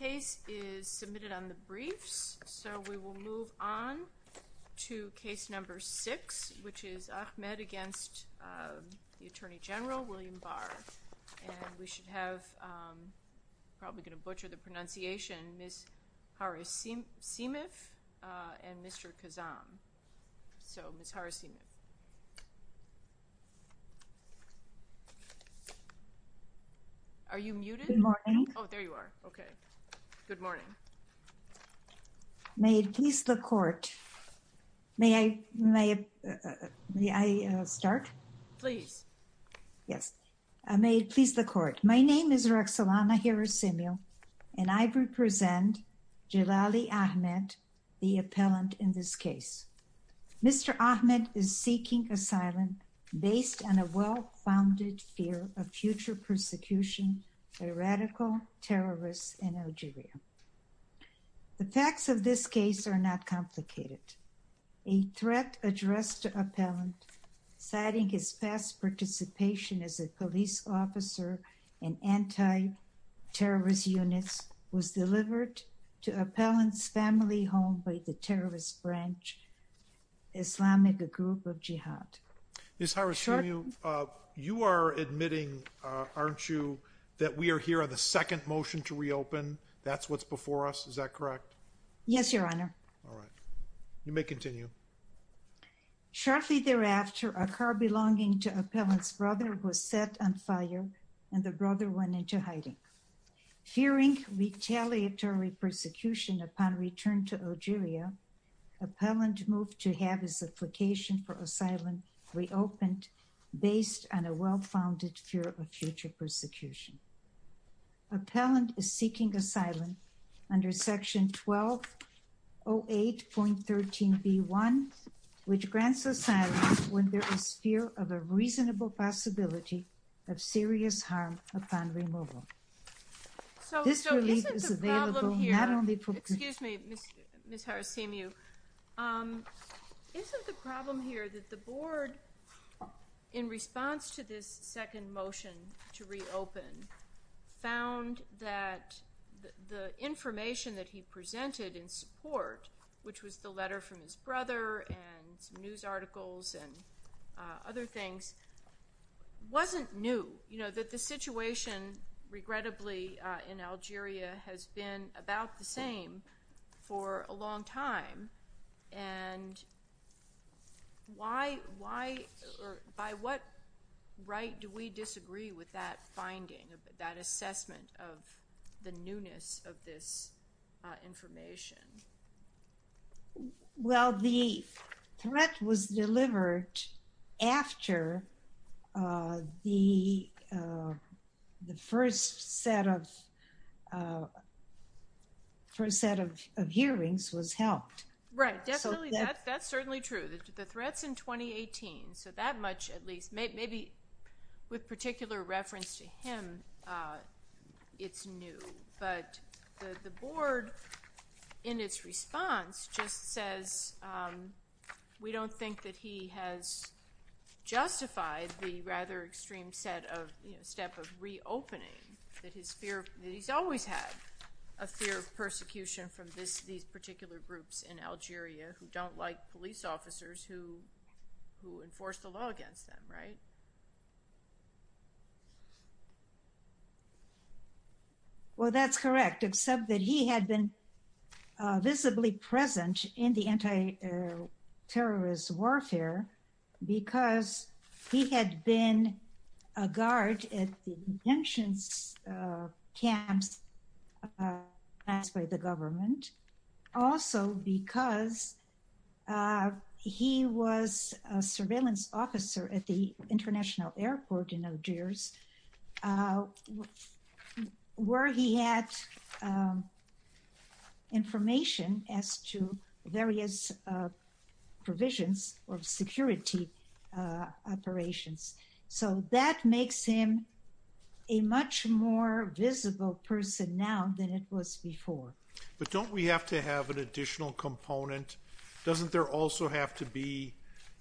The case is submitted on the briefs so we will move on to case number six which is Ahmed against the Attorney General William Barr and we should have, probably going to butcher the pronunciation, Ms. Hara Simif and Mr. Kazam. So Ms. Hara Simif. Are you muted? Good morning. Oh, there you are. Okay. Good morning. May it please the court, may I, may I, may I start? Please. Yes. May it please the court, my name is Rexelana Hara Simif and I represent Jillalli Ahmed, the appellant in this case. Mr. Ahmed is seeking asylum based on a well-founded fear of future persecution by radical terrorists in Algeria. The facts of this case are not complicated. A threat addressed to appellant citing his past participation as a police officer in Islamic group of jihad. Ms. Hara Simif, you are admitting, aren't you, that we are here on the second motion to reopen, that's what's before us, is that correct? Yes, your honor. All right. You may continue. Shortly thereafter, a car belonging to appellant's brother was set on fire and the brother went into hiding. Fearing retaliatory persecution upon return to Algeria, appellant moved to have his application for asylum reopened based on a well-founded fear of future persecution. Appellant is seeking asylum under section 1208.13b1, which grants asylum when there is fear of a reasonable possibility of serious harm upon removal. So, isn't the problem here, excuse me, Ms. Hara Simif, isn't the problem here that the board, in response to this second motion to reopen, found that the information that he other things, wasn't new, you know, that the situation, regrettably, in Algeria has been about the same for a long time, and why, by what right do we disagree with that finding, that assessment of the newness of this information? Well, the threat was delivered after the first set of hearings was helped. Right. Definitely, that's certainly true. The threat's in 2018, so that much, at least, maybe with particular reference to him, it's new. But the board, in its response, just says, we don't think that he has justified the rather extreme step of reopening, that he's always had a fear of persecution from these particular groups in Algeria, who don't like police officers, who enforce the law against them, right? Well, that's correct, except that he had been visibly present in the anti-terrorist warfare, because he had been a guard at the detention camps passed by the government, also because he was a surveillance officer at the international airport in Algiers, where he had information as to various provisions of security operations. So that makes him a much more visible person now than it was before. But don't we have to have an additional component? Doesn't there also have to be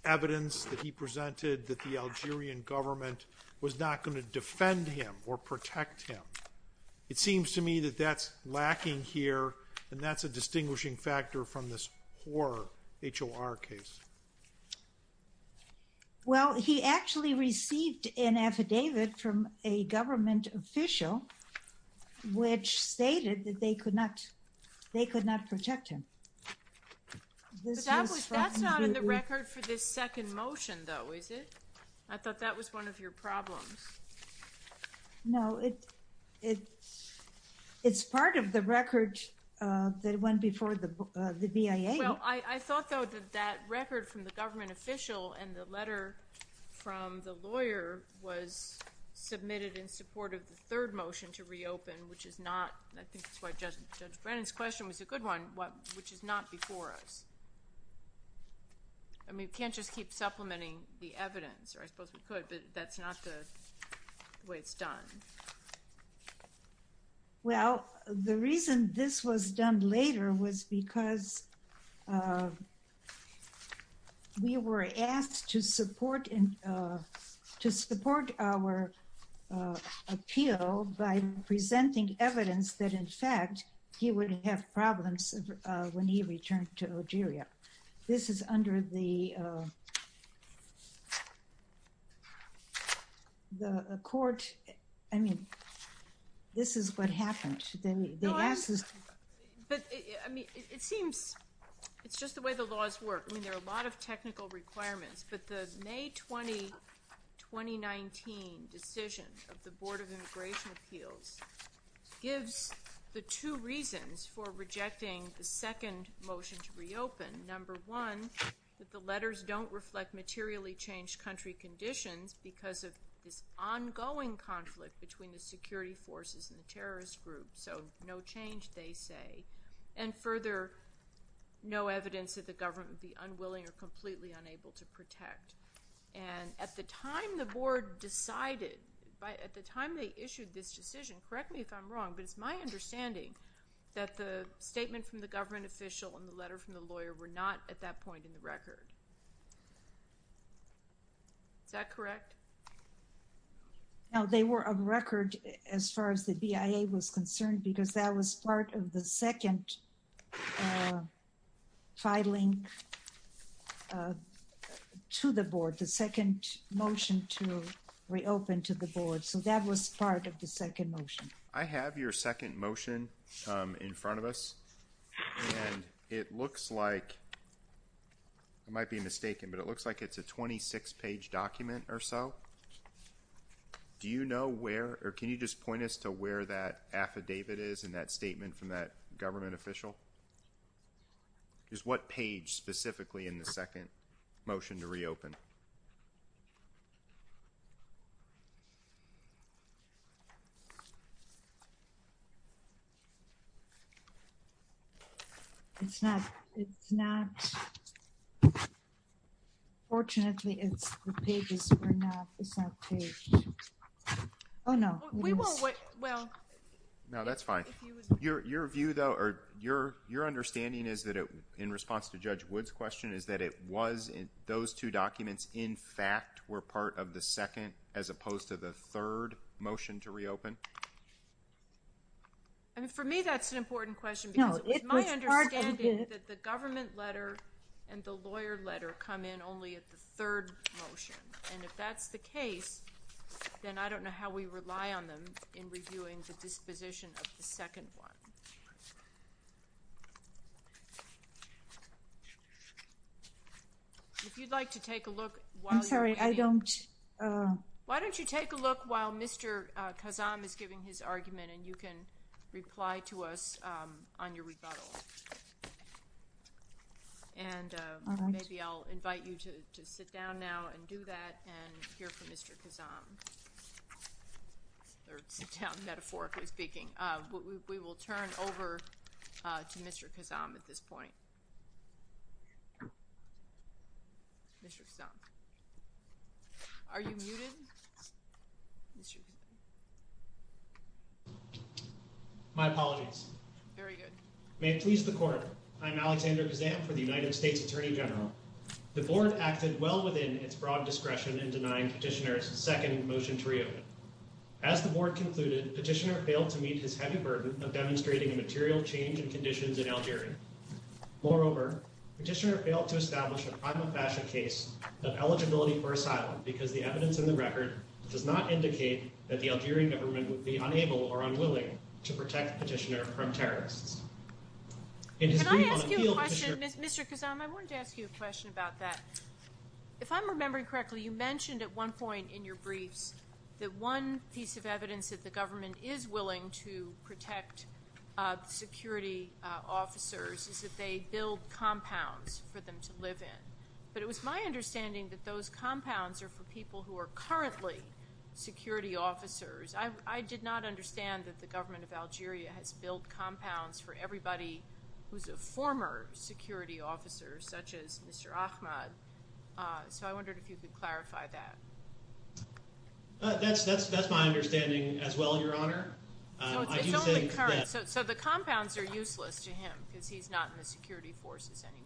evidence that he presented that the Algerian government was not going to defend him or protect him? It seems to me that that's lacking here, and that's a distinguishing factor from this horror HOR case. Well, he actually received an affidavit from a government official, which stated that they they could not protect him. That's not in the record for this second motion, though, is it? I thought that was one of your problems. No, it's part of the record that went before the BIA. Well, I thought, though, that that record from the government official and the letter from the lawyer was submitted in support of the third motion to reopen, which is not, I think that's why Judge Brennan's question was a good one, which is not before us. I mean, we can't just keep supplementing the evidence, or I suppose we could, but that's not the way it's done. Well, the reason this was done later was because we were asked to support our appeal by presenting evidence that, in fact, he would have problems when he returned to Algeria. This is under the court. I mean, this is what happened. I mean, it seems it's just the way the laws work. I mean, there are a lot of technical requirements, but the May 20, 2019 decision of the Board of Immigration Appeals gives the two reasons for rejecting the second motion to reopen. Number one, that the letters don't reflect materially changed country conditions because of this ongoing conflict between the security forces and the terrorist group. So no change, they say. And further, no evidence that the government would be unwilling or completely unable to protect. And at the time the board decided, at the time they issued this decision, correct me if I'm wrong, but it's my understanding that the statement from the government official and the letter from the lawyer were not at that point in the record. Is that correct? No, they were of record as far as the BIA was concerned because that was part of the second filing to the board, the second motion to reopen to the board. So that was part of the second motion. I have your second motion in front of us, and it looks like, I might be mistaken, but it looks like it's a 26-page document or so. Do you know where, or can you just point us to where that affidavit is in that statement from that government official? Is what page specifically in the second motion to reopen? It's not, it's not, fortunately it's, the pages are not, it's not page, oh no. We will wait, well. No, that's fine. Your view though, or your understanding is that it, in response to Judge Wood's question, is that it was, those two documents in fact were part of the second as opposed to the third motion to reopen? I mean, for me that's an important question because my understanding is that the government letter and the lawyer letter come in only at the third motion, and if that's the case, then I don't know how we rely on them in reviewing the disposition of the second one. If you'd like to take a look while you're waiting. I'm sorry, I don't. Why don't you take a look while Mr. Kazam is giving his argument and you can reply to us on your rebuttal. And maybe I'll invite you to sit down now and do that and hear from Mr. Kazam, or sit down metaphorically speaking. We will turn over to Mr. Kazam at this point. Mr. Kazam. Are you muted? My apologies. Very good. May it please the court. I'm Alexander Kazam for the United States Attorney General. The board acted well within its broad discretion in denying Petitioner's second motion to reopen. As the board concluded, Petitioner failed to meet his heavy burden of demonstrating a material change in conditions in Algeria. Moreover, Petitioner failed to establish a prima facie case of eligibility for asylum because the evidence in the record does not indicate that the Algerian government would be unable or unwilling to protect Petitioner from terrorists. Mr. Kazam, I wanted to ask you a question about that. If I'm remembering correctly, you mentioned at one point in your briefs that one piece of is that they build compounds for them to live in. But it was my understanding that those compounds are for people who are currently security officers. I did not understand that the government of Algeria has built compounds for everybody who's a former security officer, such as Mr. Ahmad. So I wondered if you could clarify that. That's my understanding as well, Your Honor. It's only current. So the compounds are useless to him because he's not in the security forces anymore.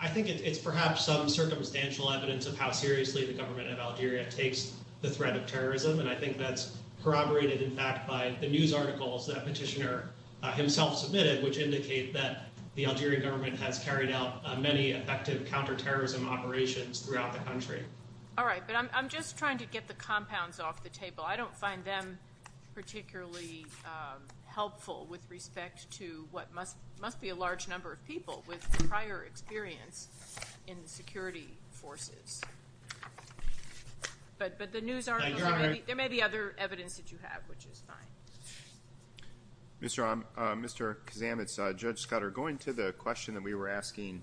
I think it's perhaps some circumstantial evidence of how seriously the government of Algeria takes the threat of terrorism. And I think that's corroborated, in fact, by the news articles that Petitioner himself submitted, which indicate that the Algerian government has carried out many effective counterterrorism operations throughout the country. I don't find them particularly helpful with respect to what must be a large number of people with prior experience in the security forces. But the news articles, there may be other evidence that you have, which is fine. Mr. Kazam, it's Judge Scudder. Going to the question that we were asking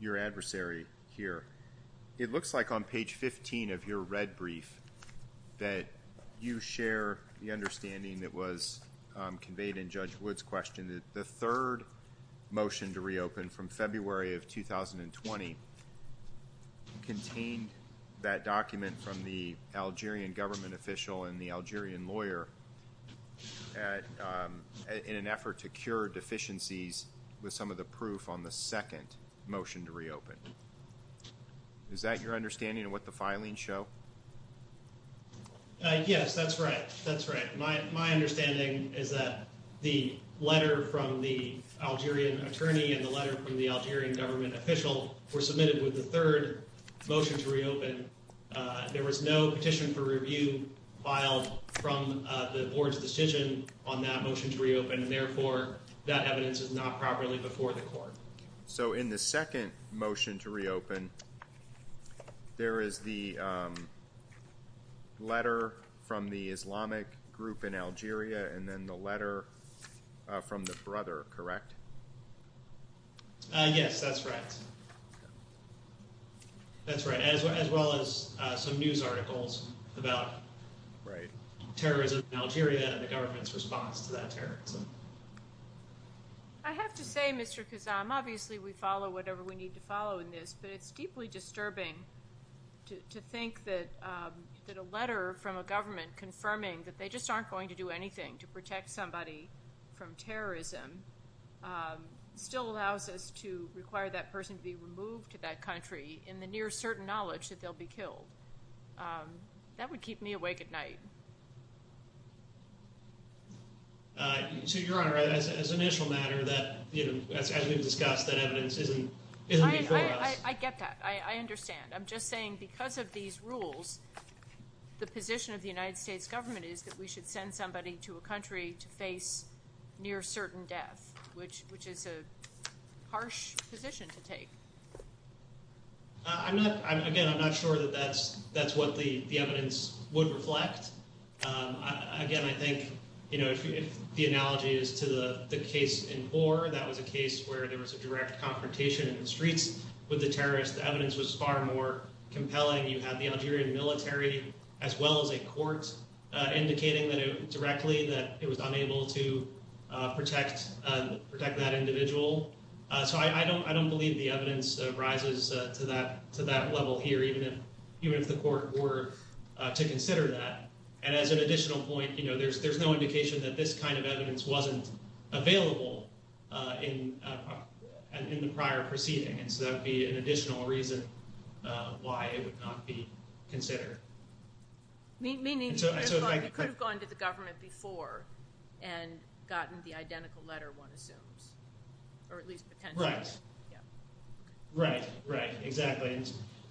your adversary here, it looks like on page 15 of your red brief that you share the understanding that was conveyed in Judge Wood's question that the third motion to reopen from February of 2020 contained that document from the Algerian government official and the Algerian lawyer in an effort to cure deficiencies with some of the proof on the second motion to reopen. Is that your understanding of what the filings show? Yes, that's right. That's right. My understanding is that the letter from the Algerian attorney and the letter from the Algerian government official were submitted with the third motion to reopen. There was no petition for review filed from the board's decision on that motion to reopen, and therefore, that evidence is not properly before the court. So in the second motion to reopen, there is the letter from the Islamic group in Algeria and then the letter from the brother, correct? Yes, that's right. That's right, as well as some news articles about terrorism in Algeria and the government's response to that terrorism. I have to say, Mr. Kuzam, obviously, we follow whatever we need to follow in this, but it's deeply disturbing to think that a letter from a government confirming that they just aren't going to do anything to protect somebody from terrorism still allows us to require that person to be removed to that country in the near certain knowledge that they'll be killed. That would keep me awake at night. So, Your Honor, as an initial matter, as we've discussed, that evidence isn't before us. I get that. I understand. I'm just saying because of these rules, the position of the United States government is that we should send somebody to a country to face near certain death, which is a harsh position to take. I'm not, again, I'm not sure that that's what the evidence would reflect. Again, I think, you know, if the analogy is to the case in Boer, that was a case where there was a direct confrontation in the streets with the terrorists. The evidence was far more compelling. You had the Algerian military, as well as a court, indicating directly that it was unable to protect that individual. So I don't believe the evidence rises to that level here, even if the court were to consider that. And as an additional point, you know, there's no indication that this kind of evidence wasn't available in the prior proceeding. And so that would be an additional reason why it would not be considered. Meaning, you could have gone to the government before and gotten the identical letter, one assumes, or at least potentially. Right. Right, right, exactly.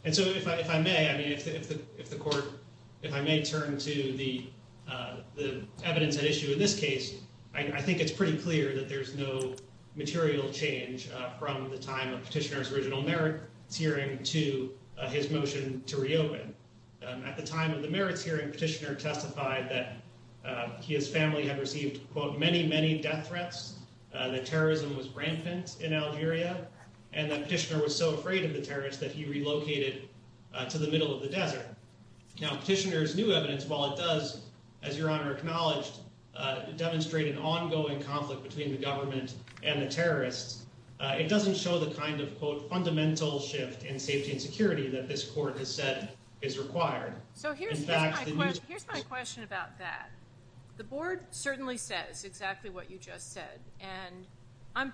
And so if I may, I mean, if the court, if I may turn to the evidence at issue in this case, I think it's pretty clear that there's no material change from the time of Petitioner's original merits hearing to his motion to reopen. At the time of the merits hearing, Petitioner testified that his family had received, quote, many, many death threats, that terrorism was rampant in Algeria, and that Petitioner was so afraid of the terrorists that he relocated to the middle of the desert. Now, Petitioner's new evidence, while it does, as Your Honor acknowledged, demonstrate an ongoing conflict between the government and the terrorists, it doesn't show the kind of, quote, fundamental shift in safety and security that this court has said is required. So here's my question about that. The board certainly says exactly what you just said, and I'm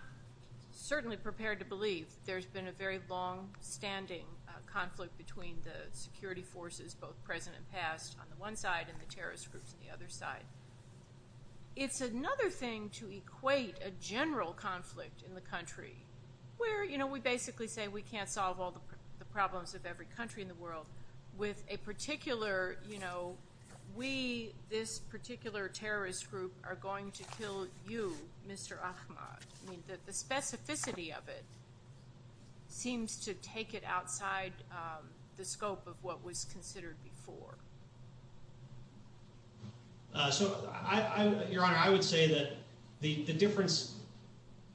certainly prepared to believe there's been a very long-standing conflict between the security forces, both present and past, on the one side and the terrorist groups on the other side. It's another thing to equate a general conflict in the country where, you know, we basically say we can't solve all the problems of every country in the world with a particular, you know, we, this particular terrorist group, are going to kill you, Mr. Ahmad. The specificity of it seems to take it outside the scope of what was considered before. So I, Your Honor, I would say that the difference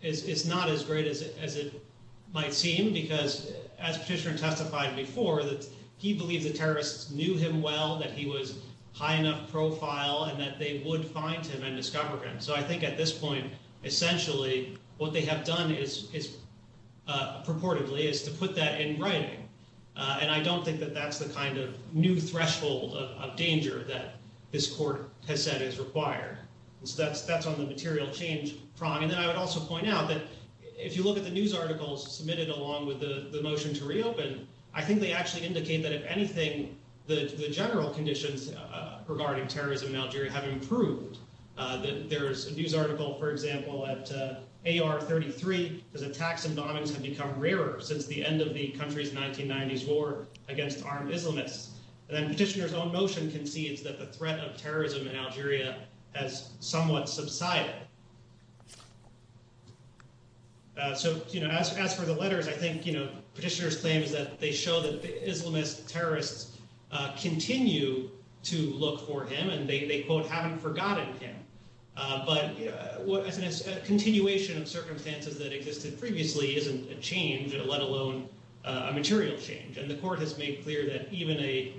is not as great as it might seem, because as Petitioner testified before, that he believed the terrorists knew him well, that he was high enough profile, and that they would find him and discover him. So I think at this point, essentially, what they have done is, purportedly, is to put that in writing, and I don't think that that's the kind of new threshold of danger that this court has said is required. So that's on the material change prong. And then I would also point out that if you look at the news articles submitted along with the motion to reopen, I think they actually indicate that, if anything, the general conditions regarding terrorism in Algeria have improved. There's a news article, for example, at AR33, that attacks and bombings have become rarer since the end of the country's 1990s war against armed Islamists. And then Petitioner's own motion concedes that the threat of terrorism in Algeria has somewhat subsided. So, you know, as for the letters, I think, you know, Petitioner's claim is that they continue to look for him, and they, quote, haven't forgotten him. But a continuation of circumstances that existed previously isn't a change, let alone a material change. And the court has made clear that even a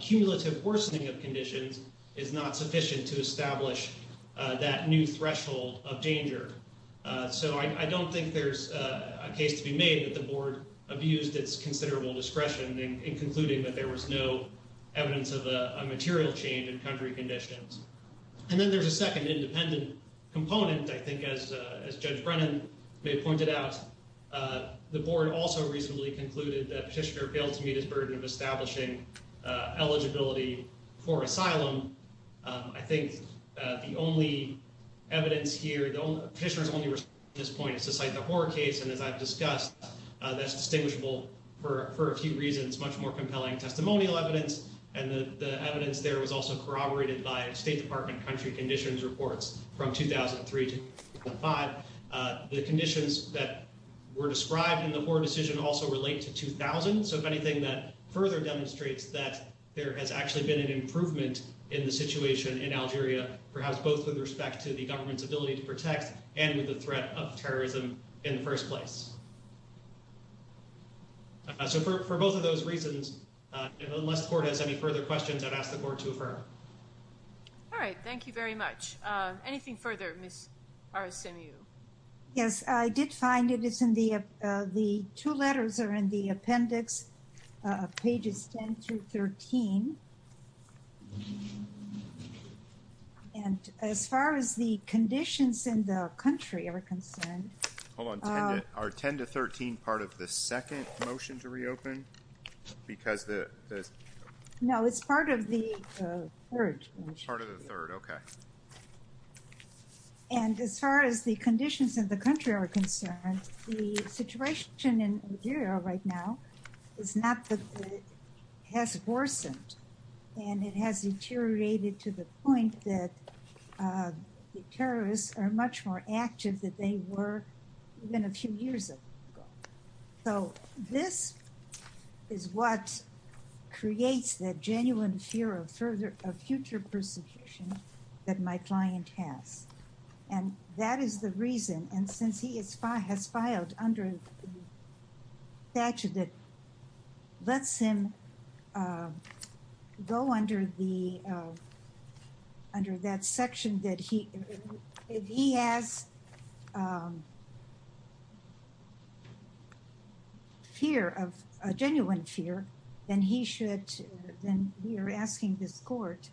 cumulative worsening of conditions is not sufficient to establish that new threshold of danger. So I don't think there's a case to be made that the board abused its considerable discretion in concluding that there was no evidence of a material change in country conditions. And then there's a second independent component, I think, as Judge Brennan may have pointed out. The board also recently concluded that Petitioner failed to meet his burden of establishing eligibility for asylum. I think the only evidence here, Petitioner's only response to this point is to cite the reasons much more compelling testimonial evidence. And the evidence there was also corroborated by State Department country conditions reports from 2003 to 2005. The conditions that were described in the Hoare decision also relate to 2000. So if anything, that further demonstrates that there has actually been an improvement in the situation in Algeria, perhaps both with respect to the government's ability to protect and with the threat of terrorism in the first place. So for both of those reasons, unless the court has any further questions, I'd ask the court to affirm. All right. Thank you very much. Anything further, Ms. Arasemiu? Yes, I did find it is in the two letters are in the appendix, pages 10 through 13. And as far as the conditions in the country are concerned. Hold on, our time is up. 10 to 13, part of the second motion to reopen because the. No, it's part of the third. Part of the third. Okay. And as far as the conditions of the country are concerned, the situation in Algeria right now is not that it has worsened and it has deteriorated to the point that the terrorists are much more active that they were even a few years ago. So this is what creates that genuine fear of further future persecution that my client has. And that is the reason. And since he has filed under the statute that lets him go under the under that section that if he has. Fear of genuine fear, then he should then we are asking this court.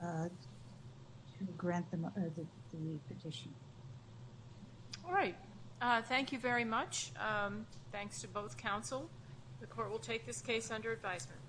To grant them the petition. All right. Thank you very much. Thanks to both counsel. The court will take this case under advisement.